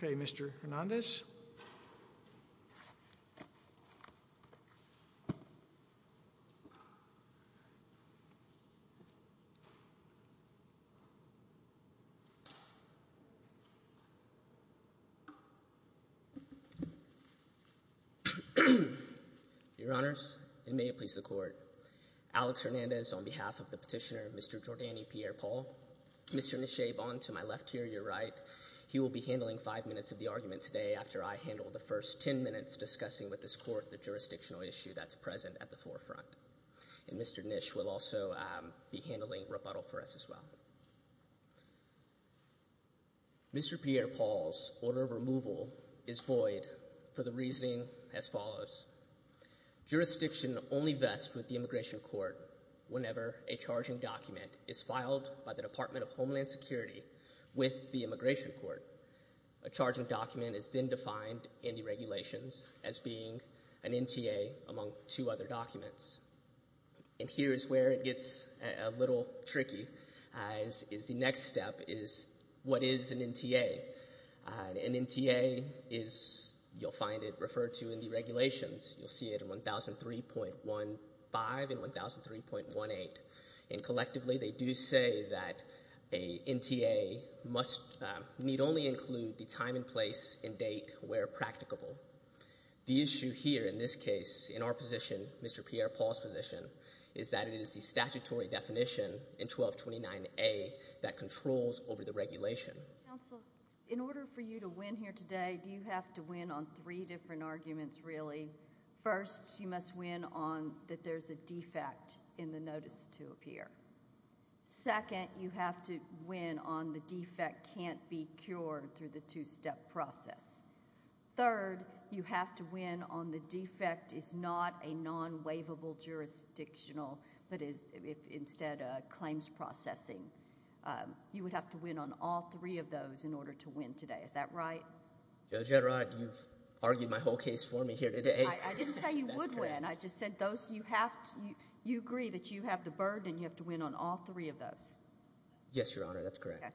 Your Honors, it may please the Court. Alex Hernandez on behalf of the petitioner Mr. Jordany Pierre-Paul, Mr. Nishab on to my left here, your right. He will be handling five minutes of the argument today after I handle the first ten minutes discussing with this Court the jurisdictional issue that's present at the forefront. And Mr. Nish will also be handling rebuttal for us as well. Mr. Pierre-Paul's order of removal is void for the reasoning as follows. Jurisdiction only vests with the Immigration Court whenever a charging document is filed by the Department of Homeland Security with the Immigration Court. A charging document is then defined in the regulations as being an NTA among two other documents. And here is where it gets a little tricky as is the next step is what is an NTA? An NTA is you'll find it referred to in the regulations. You'll see it in 1003.15 and 1003.18. And collectively they do say that a NTA must need only include the time and place and date where practicable. The issue here in this case in our position, Mr. Pierre-Paul's position, is that it is the statutory definition in 1229A that controls over the regulation. Counsel, in order for you to win here today, do you have to win on three different arguments really? First, you must win on that there's a defect in the notice to appear. Second, you have to win on the defect can't be cured through the two-step process. Third, you have to win on the defect is not a non-waivable jurisdictional but is instead a claims processing. You would have to win on all three of those in order to win today. Is that right? Judge, you're right. You've argued my whole case for me here today. I didn't say you would win. I just said you agree that you have the burden. You have to win on all three of those. Yes, Your Honor. That's correct. Okay.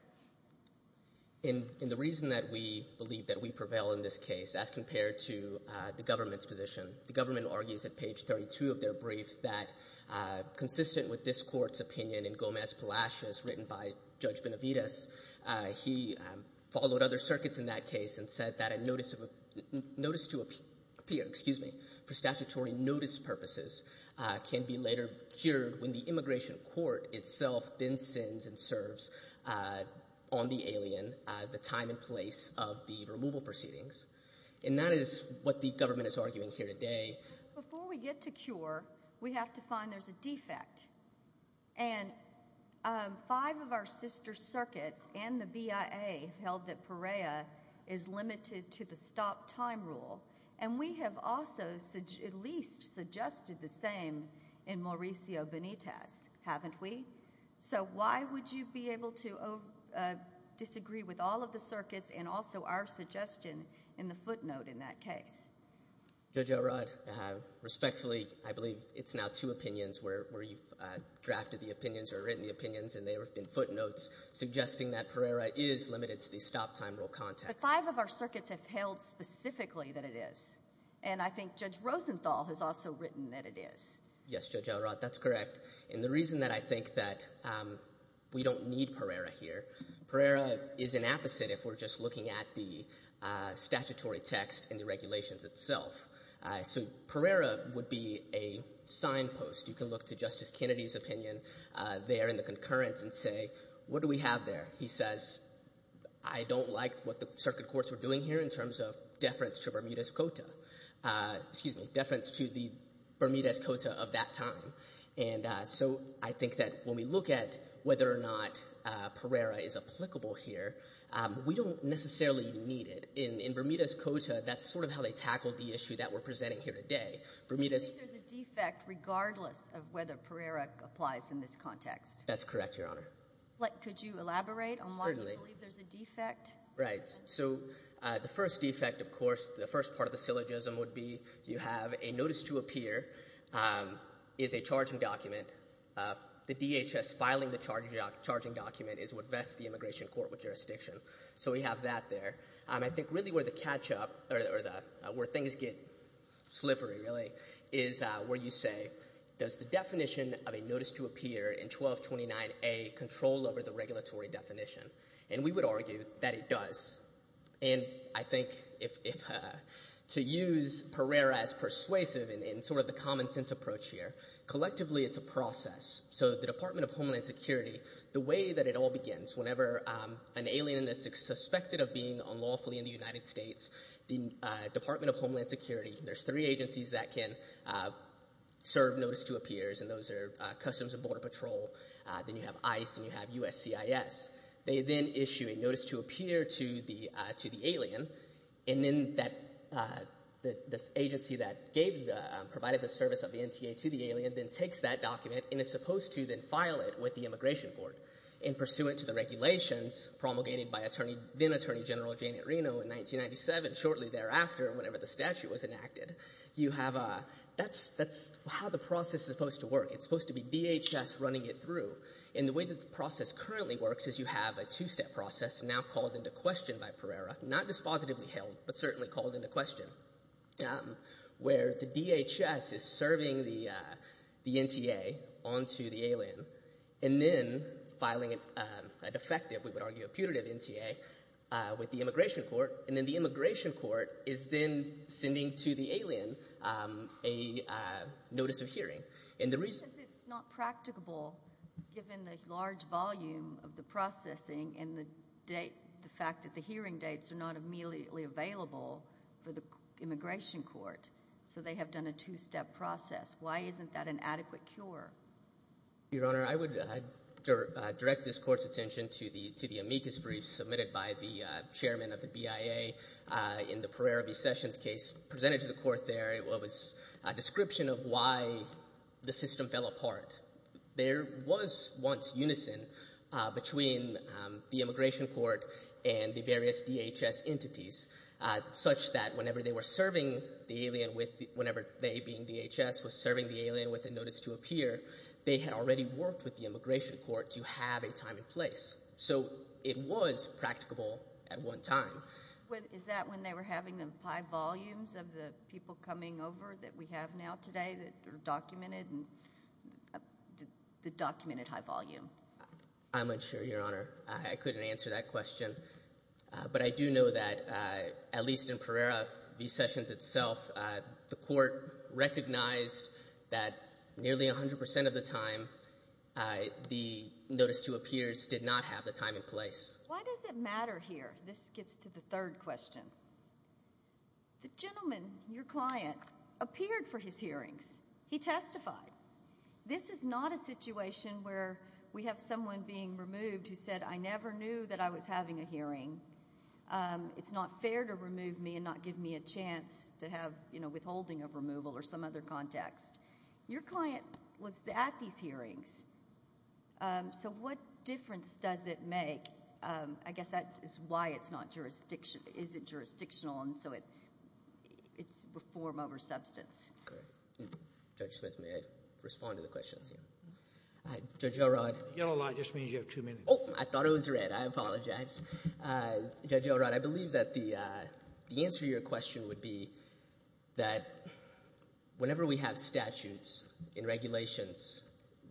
And the reason that we believe that we prevail in this case as compared to the government's position, the government argues at page 32 of their brief that consistent with this court's opinion in Gomez-Palacios written by Judge Benavides, he followed other circuits in that case and said that a notice to appear, excuse me, for statutory notice purposes can be later cured when the immigration court itself then sends and serves on the alien the time and place of the removal proceedings. And that is what the government is arguing here today. Before we get to cure, we have to find there's a defect. And five of our sister circuits and the BIA held that Perea is limited to the stop time rule. And we have also at least suggested the same in Mauricio Benitez, haven't we? So why would you be able to disagree with all of the circuits and also our suggestion in the footnote in that case? Judge Elrod, respectfully, I believe it's now two opinions where you've drafted the opinions or written the opinions and there have been footnotes suggesting that Perea is limited to the stop time rule context. But five of our circuits have held specifically that it is. And I think Judge Rosenthal has also written that it is. Yes, Judge Elrod, that's correct. And the reason that I think that we don't need Perea here, Perea is an apposite if we're just looking at the statutory text and the regulations itself. So Perea would be a signpost. You can look to Justice Kennedy's opinion there in the concurrence and say, what do we have there? He says, I don't like what the circuit courts are doing here in terms of deference to Bermuda's Cota. Excuse me, deference to the Bermuda's Cota of that time. And so I think that when we look at whether or not Perea is applicable here, we don't necessarily need it. In Bermuda's Cota, that's sort of how they tackled the issue that we're presenting here today. I believe there's a defect regardless of whether Perea applies in this context. That's correct, Your Honor. Could you elaborate on why you believe there's a defect? Right. So the first defect, of course, the first part of the syllogism would be you have a notice to appear is a charging document. The DHS filing the charging document is what vests the immigration court with jurisdiction. So we have that there. I think really where the catch up or where things get slippery really is where you say, does the definition of a notice to appear in 1229A control over the regulatory definition? And we would argue that it does. And I think to use Perea as persuasive in sort of the common sense approach here, collectively it's a process. So the Department of Homeland Security, the way that it all begins, whenever an alien is suspected of being unlawfully in the United States, the Department of Homeland Security, there's three agencies that can serve notice to appears, and those are Customs and Border Patrol, then you have ICE, and you have USCIS. They then issue a notice to appear to the alien, and then this agency that provided the service of the NTA to the alien then takes that document and is supposed to then file it with the immigration court and pursuant to the regulations promulgated by then Attorney General Janet Reno in 1997, shortly thereafter, whenever the statute was enacted, you have a, that's how the process is supposed to work. It's supposed to be DHS running it through. And the way that the process currently works is you have a two-step process now called into question by Pereira, not dispositively held, but certainly called into question, where the DHS is serving the NTA onto the alien and then filing a defective, we would argue a putative NTA, with the immigration court, and then the immigration court is then sending to the alien a notice of hearing. And the reason... Because it's not practicable given the large volume of the processing and the date, the fact that the hearing dates are not immediately available for the immigration court, so they have done a two-step process. Why isn't that an adequate cure? Your Honor, I would direct this court's attention to the amicus brief submitted by the chairman of the BIA in the Pereira v. Sessions case presented to the court there. It was a description of why the system fell apart. There was once unison between the immigration court and the various DHS entities, such that whenever they were serving the alien with...whenever they, being DHS, were serving the alien with a notice to appear, they had already worked with the immigration court to have a time and place. So it was practicable at one time. Is that when they were having the high volumes of the people coming over that we have now today that are documented? The documented high volume. I'm unsure, Your Honor. I couldn't answer that question. But I do know that, at least in Pereira v. Sessions itself, the court recognized that nearly 100% of the time, the notice to appears did not have the time and place. Why does it matter here? This gets to the third question. The gentleman, your client, appeared for his hearings. He testified. This is not a situation where we have someone being removed who said, I never knew that I was having a hearing. It's not fair to remove me and not give me a chance to have withholding of removal or some other context. Your client was at these hearings, so what difference does it make? I guess that is why it's not jurisdiction...isn't jurisdictional, and so it's reform over substance. Judge Smith, may I respond to the questions here? Judge Elrod. The yellow light just means you have two minutes. Oh, I thought it was red. I apologize. Judge Elrod, I believe that the answer to your question would be that whenever we have statutes and regulations,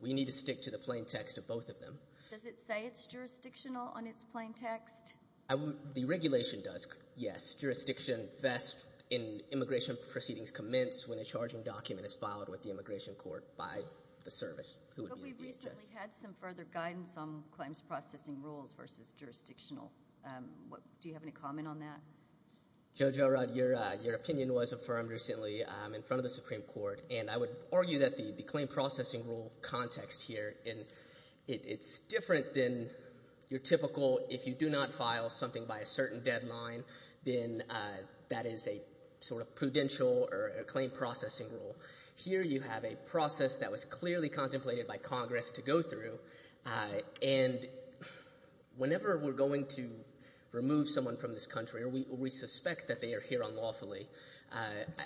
we need to stick to the plain text of both of them. Does it say it's jurisdictional on its plain text? The regulation does, yes. Jurisdiction best in immigration proceedings commenced when a charging document is filed with the immigration court by the service. But we've recently had some further guidance on claims processing rules versus jurisdictional. Do you have any comment on that? Judge Elrod, your opinion was affirmed recently in front of the Supreme Court, and I would argue that the claim processing rule context here, it's different than your typical, if you do not file something by a certain deadline, then that is a sort of prudential or a claim processing rule. Here you have a process that was clearly contemplated by Congress to go through, and whenever we're going to remove someone from this country, or we suspect that they are here unlawfully,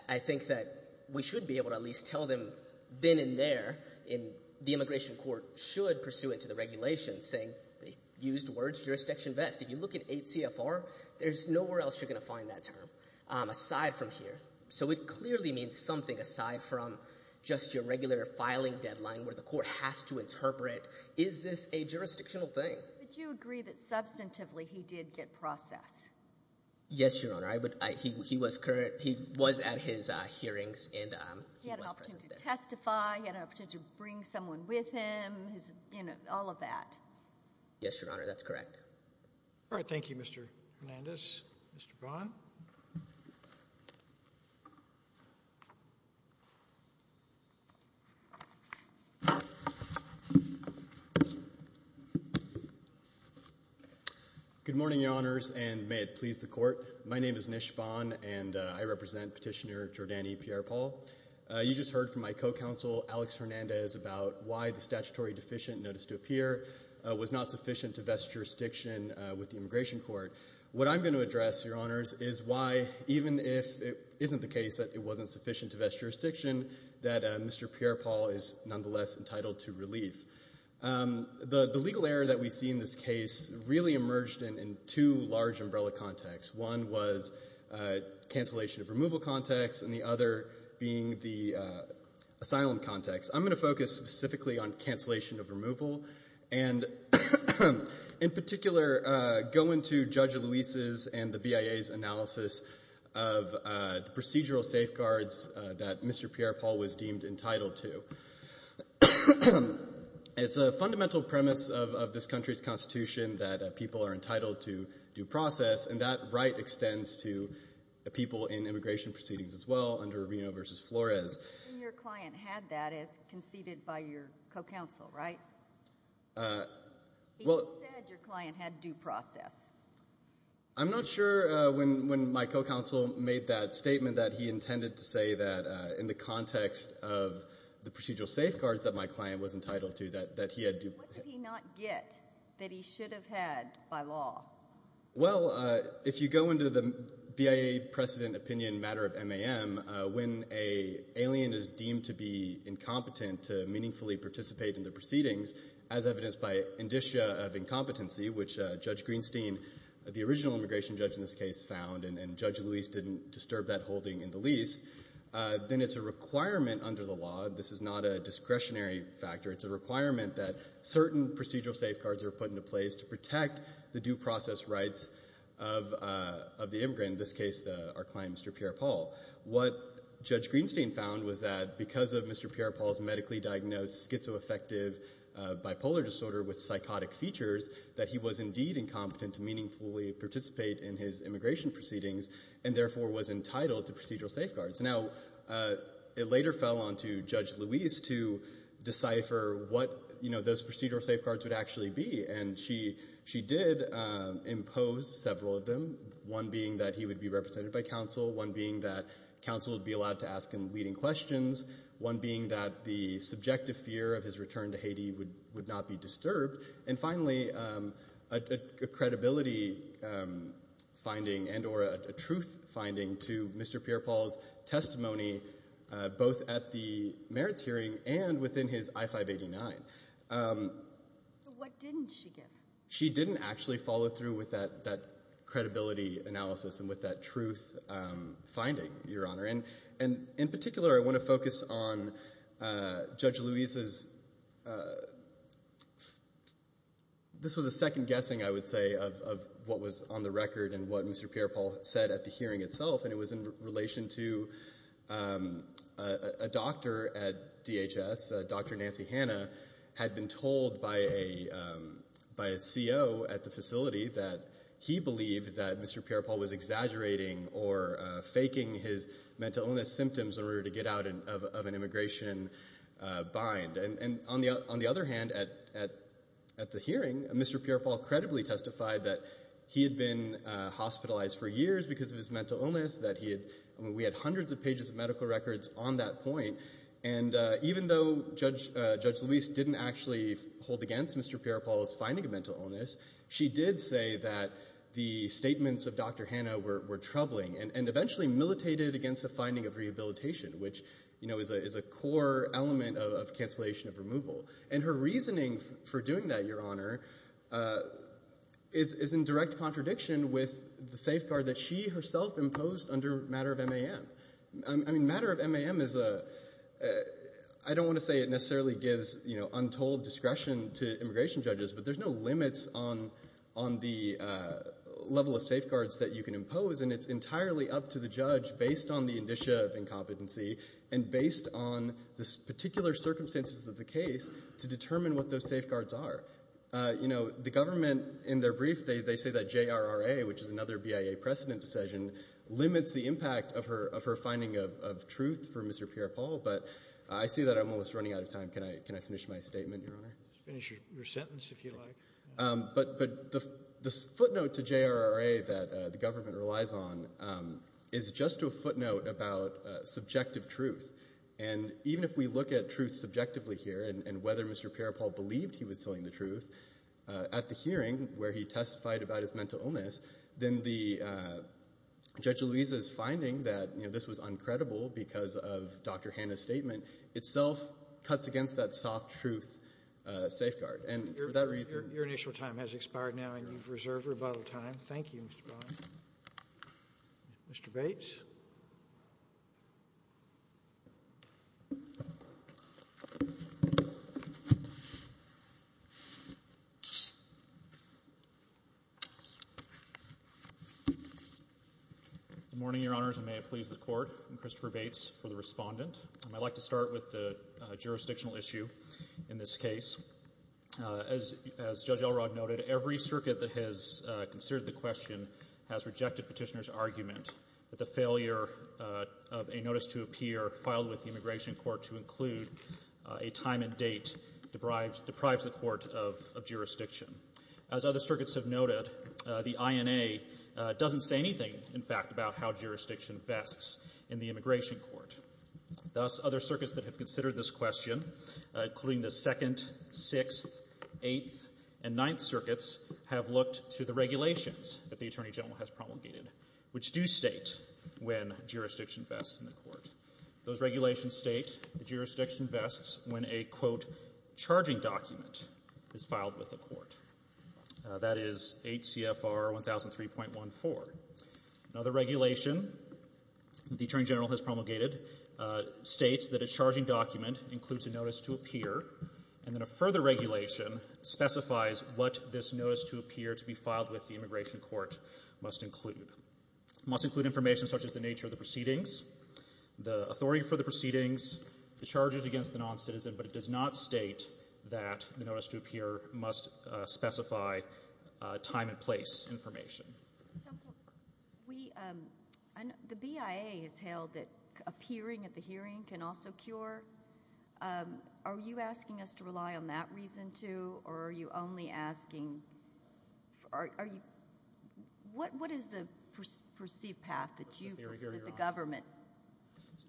I think that we should be able to at least tell them then and there, and the immigration court should pursue it to the regulation, saying they used words jurisdiction best. If you look at 8 CFR, there's nowhere else you're going to find that term aside from here. So it clearly means something aside from just your regular filing deadline where the court has to interpret, is this a jurisdictional thing? But you agree that substantively he did get process? Yes, Your Honor. He had a potential to testify. He had a potential to bring someone with him, all of that. Yes, Your Honor, that's correct. All right. Thank you, Mr. Hernandez. Mr. Bond? Good morning, Your Honors, and may it please the court. My name is Nish Bond, and I represent Petitioner Giordani Pierre-Paul. You just heard from my co-counsel, Alex Hernandez, about why the statutory deficient notice to appear was not sufficient to vest jurisdiction with the immigration court. What I'm going to address, Your Honors, is why even if it isn't the case that it wasn't sufficient to vest jurisdiction, that Mr. Pierre-Paul is nonetheless entitled to relief. The legal error that we see in this case really emerged in two large umbrella contexts. One was cancellation of removal context, and the other being the asylum context. I'm going to focus specifically on cancellation of removal and in particular go into Judge Luis's and the BIA's analysis of procedural safeguards that Mr. Pierre-Paul was deemed entitled to. It's a fundamental premise of this country's constitution that people are entitled to due process, and that right extends to people in immigration proceedings as well under Reno v. Flores. Your client had that as conceded by your co-counsel, right? He said your client had due process. I'm not sure when my co-counsel made that statement that he intended to say that in the context of the procedural safeguards that my client was entitled to that he had due process. What did he not get that he should have had by law? Well, if you go into the BIA precedent opinion matter of MAM, when an alien is deemed to be incompetent to meaningfully participate in the proceedings, as evidenced by indicia of incompetency, which Judge Greenstein, the original immigration judge in this case, found, and Judge Luis didn't disturb that holding in the lease, then it's a requirement under the law. This is not a discretionary factor. It's a requirement that certain procedural safeguards are put into place to protect the due process rights of the immigrant, in this case our client, Mr. Pierre Paul. What Judge Greenstein found was that because of Mr. Pierre Paul's medically diagnosed schizoaffective bipolar disorder with psychotic features, that he was indeed incompetent to meaningfully participate in his immigration proceedings and therefore was entitled to procedural safeguards. Now, it later fell onto Judge Luis to decipher what those procedural safeguards would actually be, and she did impose several of them, one being that he would be represented by counsel, one being that counsel would be allowed to ask him leading questions, one being that the subjective fear of his return to Haiti would not be disturbed, and finally a credibility finding and or a truth finding to Mr. Pierre Paul's testimony both at the merits hearing and within his I-589. So what didn't she give? She didn't actually follow through with that credibility analysis and with that truth finding, Your Honor. In particular, I want to focus on Judge Luis's This was a second guessing, I would say, of what was on the record and what Mr. Pierre Paul said at the hearing itself, and it was in relation to a doctor at DHS, Dr. Nancy Hanna, had been told by a CO at the facility that he believed that Mr. Pierre Paul was exaggerating or faking his mental illness symptoms in order to get out of an immigration bind. And on the other hand, at the hearing, Mr. Pierre Paul credibly testified that he had been hospitalized for years because of his mental illness, that he had hundreds of pages of medical records on that point, and even though Judge Luis didn't actually hold against Mr. Pierre Paul's finding of mental illness, she did say that the statements of Dr. Hanna were troubling and eventually militated against a finding of rehabilitation, which is a core element of cancellation of removal. And her reasoning for doing that, Your Honor, is in direct contradiction with the safeguard that she herself imposed under matter of MAM. Matter of MAM is a... I don't want to say it necessarily gives untold discretion to immigration judges, but there's no limits on the level of safeguards that you can impose, and it's entirely up to the judge, based on the indicia of incompetency and based on the particular circumstances of the case, to determine what those safeguards are. You know, the government, in their brief, they say that JRRA, which is another BIA precedent decision, limits the impact of her finding of truth for Mr. Pierre Paul, but I see that I'm almost running out of time. Can I finish my statement, Your Honor? Finish your sentence, if you like. But the footnote to JRRA that the government relies on is just a footnote about subjective truth. And even if we look at truth subjectively here and whether Mr. Pierre Paul believed he was telling the truth, at the hearing where he testified about his mental illness, then Judge Luisa's finding that this was uncredible because of Dr. Hanna's statement itself cuts against that soft truth safeguard. And for that reason— Your initial time has expired now, and you've reserved rebuttal time. Thank you, Mr. Brown. Mr. Bates. Good morning, Your Honors, and may it please the Court. I'm Christopher Bates for the Respondent. I'd like to start with the jurisdictional issue in this case. As Judge Elrod noted, every circuit that has considered the question has rejected Petitioner's argument that the failure of a notice to appear filed with the Immigration Court to include a time and date deprives the Court of jurisdiction. As other circuits have noted, the INA doesn't say anything, in fact, about how jurisdiction vests in the Immigration Court. Thus, other circuits that have considered this question, including the Second, Sixth, Eighth, and Ninth Circuits, have looked to the regulations that the Attorney General has promulgated, which do state when jurisdiction vests in the Court. Those regulations state that jurisdiction vests when a, quote, charging document is filed with the Court. That is 8 CFR 1003.14. Another regulation the Attorney General has promulgated states that a charging document includes a notice to appear, and then a further regulation specifies what this notice to appear to be filed with the Immigration Court must include. It must include information such as the nature of the proceedings, the authority for the proceedings, the charges against the noncitizen, but it does not state that the notice to appear must specify time and place information. Counsel, the BIA has held that appearing at the hearing can also cure. Are you asking us to rely on that reason, too, or are you only asking? What is the perceived path that you prefer that the government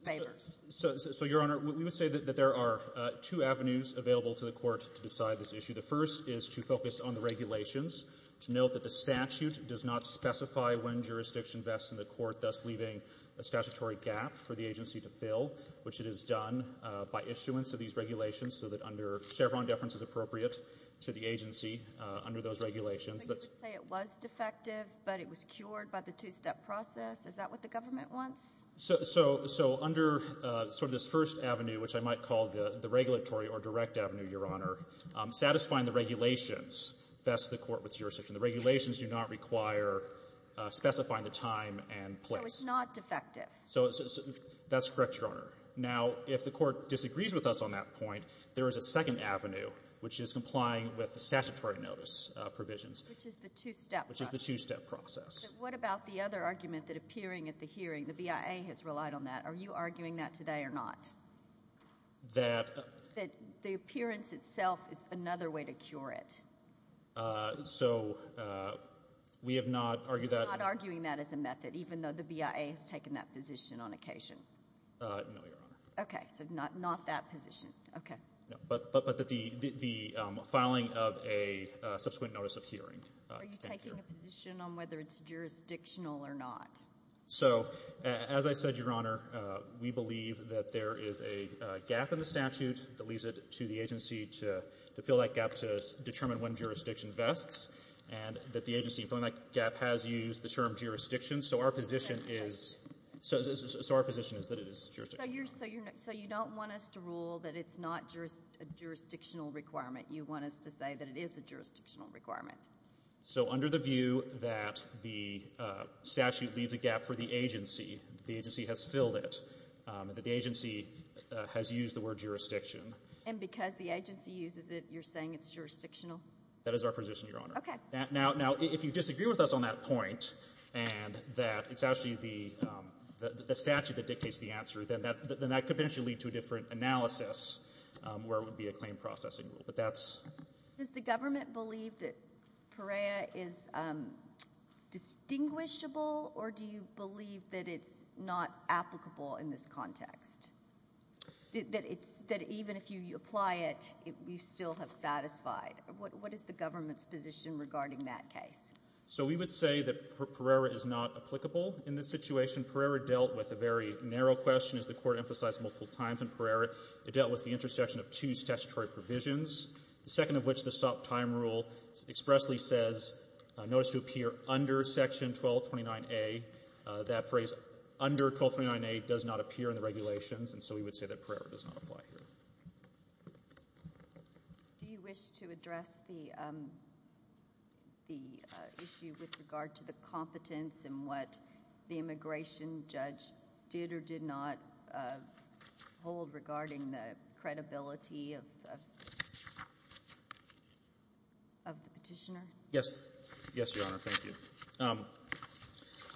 favors? So, Your Honor, we would say that there are two avenues available to the Court to decide this issue. The first is to focus on the regulations, to note that the statute does not specify when jurisdiction vests in the Court, thus leaving a statutory gap for the agency to fill, which it has done by issuance of these regulations, so that under Chevron deference is appropriate to the agency under those regulations. So you would say it was defective, but it was cured by the two-step process? Is that what the government wants? So under sort of this first avenue, which I might call the regulatory or direct avenue, Your Honor, satisfying the regulations vests the Court with jurisdiction. The regulations do not require specifying the time and place. So it's not defective. So that's correct, Your Honor. Now, if the Court disagrees with us on that point, there is a second avenue, which is complying with the statutory notice provisions. Which is the two-step process. Which is the two-step process. So what about the other argument that appearing at the hearing, the BIA has relied on that? Are you arguing that today or not? That the appearance itself is another way to cure it. So we have not argued that. You're not arguing that as a method, even though the BIA has taken that position on occasion? No, Your Honor. Okay, so not that position. But the filing of a subsequent notice of hearing. Are you taking a position on whether it's jurisdictional or not? So, as I said, Your Honor, we believe that there is a gap in the statute that leads it to the agency to fill that gap to determine when jurisdiction vests. And that the agency, filling that gap, has used the term jurisdiction. So our position is that it is jurisdictional. So you don't want us to rule that it's not a jurisdictional requirement. You want us to say that it is a jurisdictional requirement. So under the view that the statute leaves a gap for the agency, the agency has filled it, that the agency has used the word jurisdiction. And because the agency uses it, you're saying it's jurisdictional? That is our position, Your Honor. Okay. Now, if you disagree with us on that point and that it's actually the statute that dictates the answer, then that could potentially lead to a different analysis where it would be a claim processing rule. Does the government believe that Pereira is distinguishable, or do you believe that it's not applicable in this context? That even if you apply it, you still have satisfied? What is the government's position regarding that case? So we would say that Pereira is not applicable in this situation. Pereira dealt with a very narrow question, as the Court emphasized multiple times in Pereira. It dealt with the intersection of two statutory provisions, the second of which the stop-time rule expressly says notice to appear under Section 1229A. That phrase under 1229A does not appear in the regulations, and so we would say that Pereira does not apply here. Do you wish to address the issue with regard to the competence and what the immigration judge did or did not hold regarding the credibility of the petitioner? Yes. Yes, Your Honor, thank you.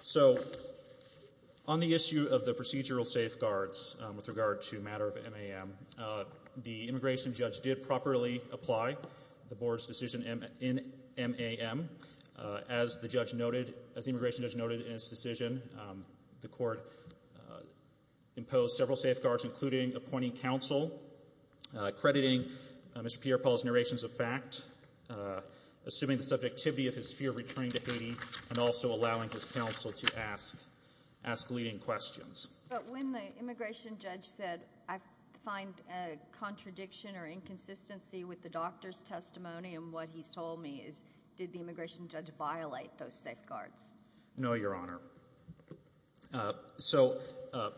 So on the issue of the procedural safeguards with regard to a matter of MAM, the immigration judge did properly apply the Board's decision in MAM. As the immigration judge noted in his decision, the Court imposed several safeguards, including appointing counsel, crediting Mr. Pierpont's narrations of fact, assuming the subjectivity of his fear of returning to Haiti, and also allowing his counsel to ask leading questions. But when the immigration judge said, I find a contradiction or inconsistency with the doctor's testimony and what he's told me is did the immigration judge violate those safeguards? No, Your Honor. So a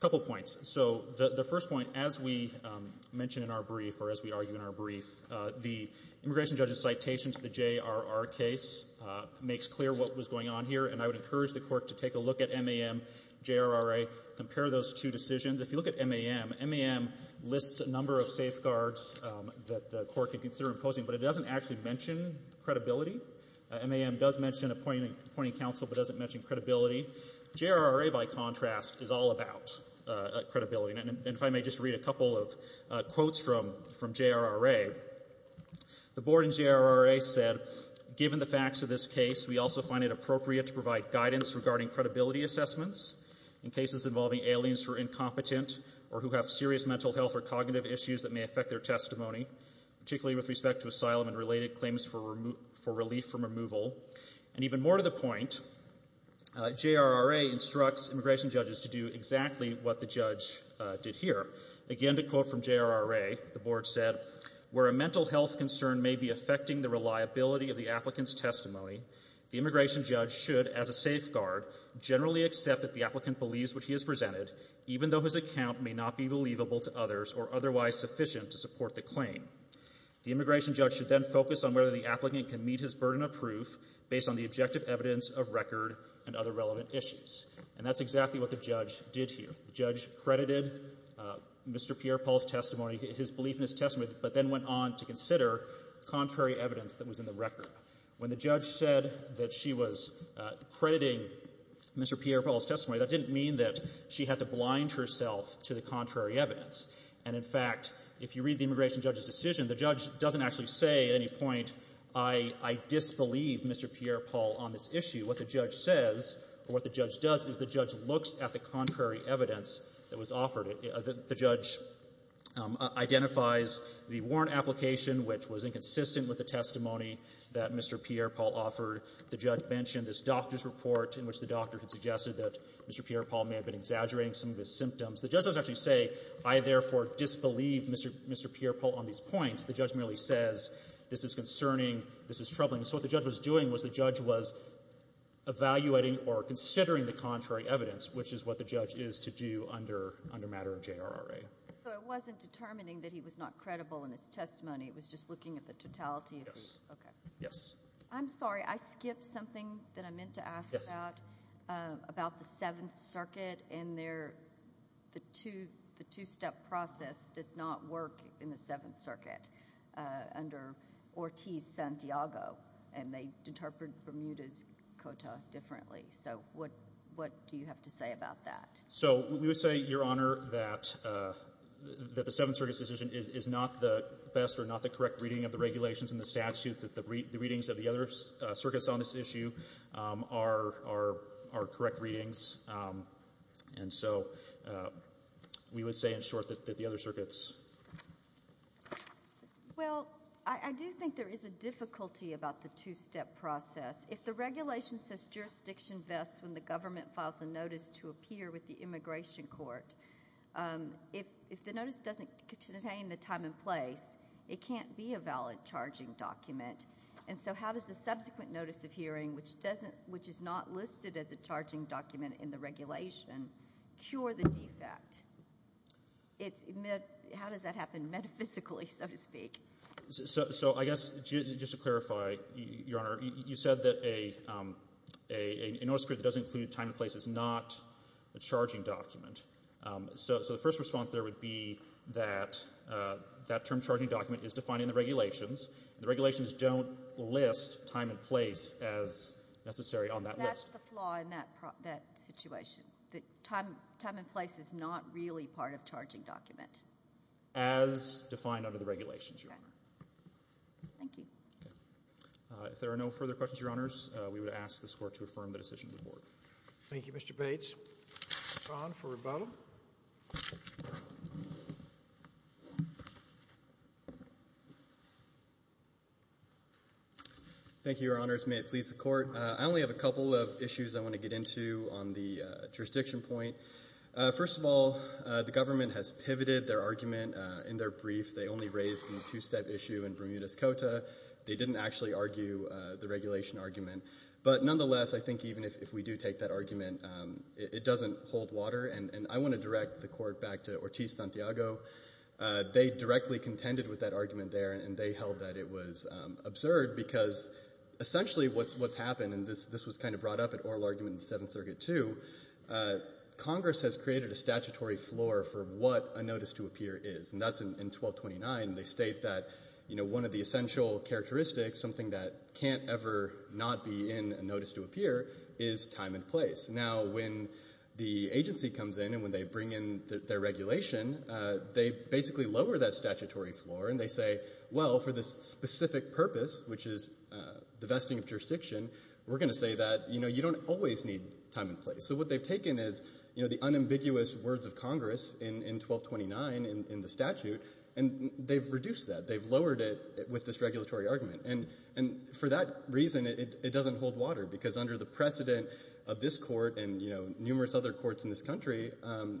couple points. So the first point, as we mentioned in our brief or as we argue in our brief, the immigration judge's citation to the JRR case makes clear what was going on here, and I would encourage the Court to take a look at MAM, JRRA, compare those two decisions. If you look at MAM, MAM lists a number of safeguards that the Court could consider imposing, but it doesn't actually mention credibility. MAM does mention appointing counsel but doesn't mention credibility. JRRA, by contrast, is all about credibility. And if I may just read a couple of quotes from JRRA. The Board in JRRA said, given the facts of this case, we also find it appropriate to provide guidance regarding credibility assessments in cases involving aliens who are incompetent or who have serious mental health or cognitive issues that may affect their testimony, particularly with respect to asylum and related claims for relief from removal. And even more to the point, JRRA instructs immigration judges to do exactly what the judge did here. Again, to quote from JRRA, the Board said, where a mental health concern may be affecting the reliability of the applicant's testimony, the immigration judge should, as a safeguard, generally accept that the applicant believes what he has presented, even though his account may not be believable to others or otherwise sufficient to support the claim. The immigration judge should then focus on whether the applicant can meet his burden of proof based on the objective evidence of record and other relevant issues. And that's exactly what the judge did here. The judge credited Mr. Pierre-Paul's testimony, his belief in his testimony, but then went on to consider contrary evidence that was in the record. When the judge said that she was crediting Mr. Pierre-Paul's testimony, that didn't mean that she had to blind herself to the contrary evidence. And, in fact, if you read the immigration judge's decision, the judge doesn't actually say at any point, I disbelieve Mr. Pierre-Paul on this issue. What the judge says or what the judge does is the judge looks at the contrary evidence that was offered. The judge identifies the warrant application, which was inconsistent with the testimony that Mr. Pierre-Paul offered. The judge mentioned this doctor's report in which the doctor had suggested that Mr. Pierre-Paul may have been exaggerating some of his symptoms. The judge doesn't actually say, I therefore disbelieve Mr. Pierre-Paul on these points. The judge merely says, this is concerning, this is troubling. So what the judge was doing was the judge was evaluating or considering the contrary evidence, which is what the judge is to do under matter of JRRA. So it wasn't determining that he was not credible in his testimony. It was just looking at the totality. Yes. I'm sorry. I skipped something that I meant to ask about, about the Seventh Circuit and the two-step process does not work in the Seventh Circuit under Ortiz-Santiago, and they interpret Bermuda's Cota differently. So what do you have to say about that? So we would say, Your Honor, that the Seventh Circuit's decision is not the best or not the correct reading of the regulations and the statutes. The readings of the other circuits on this issue are correct readings. And so we would say in short that the other circuits. Well, I do think there is a difficulty about the two-step process. If the regulation says jurisdiction vests when the government files a notice to appear with the immigration court, if the notice doesn't contain the time and place, it can't be a valid charging document. And so how does the subsequent notice of hearing, which is not listed as a charging document in the regulation, cure the defect? How does that happen metaphysically, so to speak? So I guess just to clarify, Your Honor, you said that a notice to appear that doesn't include time and place is not a charging document. So the first response there would be that that term, charging document, is defined in the regulations. The regulations don't list time and place as necessary on that list. That's the flaw in that situation, that time and place is not really part of charging document. As defined under the regulations, Your Honor. Thank you. Okay. If there are no further questions, Your Honors, we would ask this Court to affirm the decision of the Board. Thank you, Mr. Bates. Mr. Kahn for rebuttal. Thank you, Your Honors. May it please the Court. I only have a couple of issues I want to get into on the jurisdiction point. First of all, the government has pivoted their argument in their brief. They only raised the two-step issue in Bermuda's Cota. They didn't actually argue the regulation argument. But nonetheless, I think even if we do take that argument, it doesn't hold water, and I want to direct the Court back to Ortiz-Santiago. They directly contended with that argument there, and they held that it was absurd because essentially what's happened, and this was kind of brought up at oral argument in the Seventh Circuit too, Congress has created a statutory floor for what a notice to appear is, and that's in 1229. They state that one of the essential characteristics, something that can't ever not be in a notice to appear, is time and place. Now, when the agency comes in and when they bring in their regulation, they basically lower that statutory floor and they say, well, for this specific purpose, which is the vesting of jurisdiction, we're going to say that you don't always need time and place. So what they've taken is the unambiguous words of Congress in 1229 in the statute, and they've reduced that. They've lowered it with this regulatory argument. And for that reason, it doesn't hold water because under the precedent of this Court and numerous other courts in this country,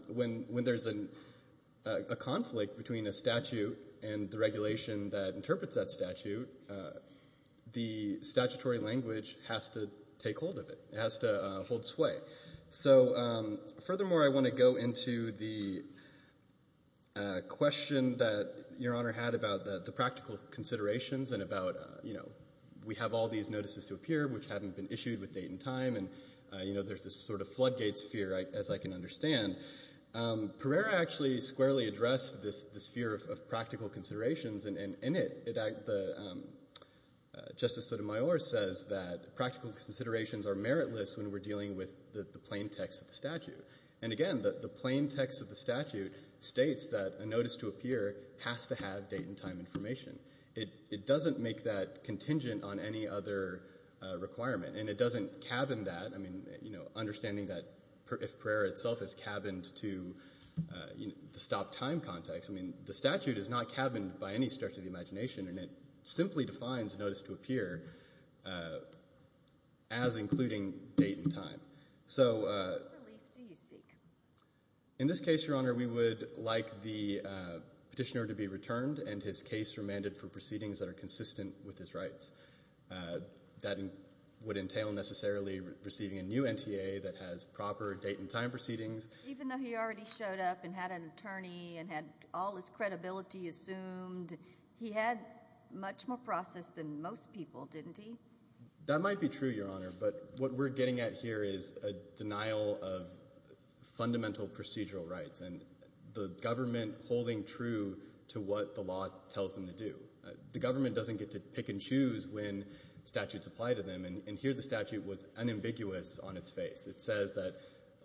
when there's a conflict between a statute and the regulation that interprets that statute, the statutory language has to take hold of it. It has to hold sway. So furthermore, I want to go into the question that Your Honor had about the practical considerations and about we have all these notices to appear which haven't been issued with date and time, and there's this sort of floodgates fear, as I can understand. Pereira actually squarely addressed this fear of practical considerations, and in it Justice Sotomayor says that practical considerations are meritless when we're dealing with the plain text of the statute. And again, the plain text of the statute states that a notice to appear has to have date and time information. It doesn't make that contingent on any other requirement, and it doesn't cabin that. I mean, you know, understanding that if Pereira itself is cabined to the stop-time context, I mean, the statute is not cabined by any stretch of the imagination, and it simply defines notice to appear as including date and time. So in this case, Your Honor, we would like the petitioner to be returned and his case remanded for proceedings that are consistent with his rights. That would entail necessarily receiving a new NTA that has proper date and time proceedings. Even though he already showed up and had an attorney and had all his credibility assumed, he had much more process than most people, didn't he? That might be true, Your Honor. But what we're getting at here is a denial of fundamental procedural rights and the government holding true to what the law tells them to do. The government doesn't get to pick and choose when statutes apply to them. And here the statute was unambiguous on its face. It says that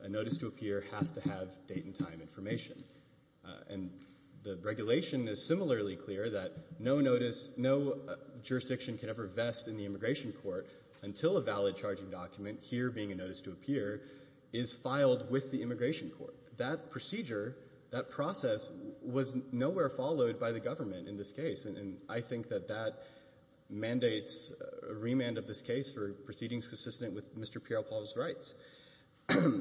a notice to appear has to have date and time information. And the regulation is similarly clear that no notice, no jurisdiction can ever vest in the immigration court until a valid charging document, here being a notice to appear, is filed with the immigration court. That procedure, that process was nowhere followed by the government in this case. And I think that that mandates a remand of this case for proceedings consistent with Mr. Pieropol's rights. Let me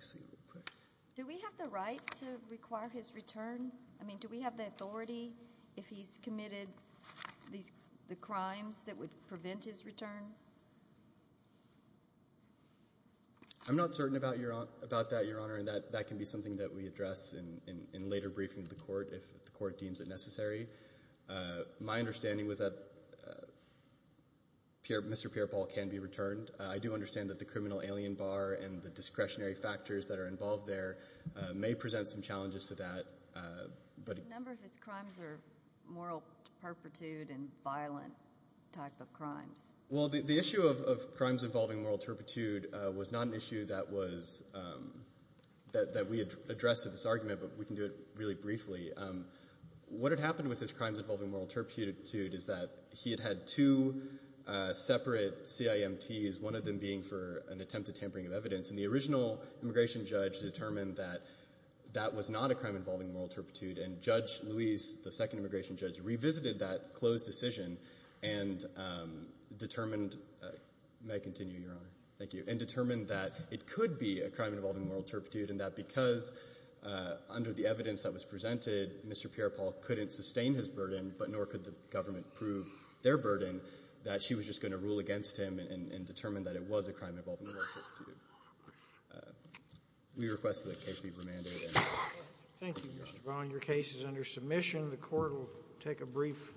see real quick. Do we have the right to require his return? I mean, do we have the authority if he's committed the crimes that would prevent his return? I'm not certain about that, Your Honor, and that can be something that we address in later briefing to the court if the court deems it necessary. My understanding was that Mr. Pieropol can be returned. I do understand that the criminal alien bar and the discretionary factors that are involved there may present some challenges to that. The number of his crimes are moral turpitude and violent type of crimes. Well, the issue of crimes involving moral turpitude was not an issue that we addressed in this argument, but we can do it really briefly. What had happened with his crimes involving moral turpitude is that he had had two separate CIMTs, one of them being for an attempt at tampering of evidence, and the original immigration judge determined that that was not a crime involving moral turpitude, and Judge Luis, the second immigration judge, revisited that closed decision and determined, may I continue, Your Honor? Thank you. And determined that it could be a crime involving moral turpitude and that because under the evidence that was presented, Mr. Pieropol couldn't sustain his burden, but nor could the government prove their burden, that she was just going to rule against him and determine that it was a crime involving moral turpitude. We request that the case be remanded. Thank you, Your Honor. Thank you, Mr. Vaughn. Your case is under submission. The court will take a brief break.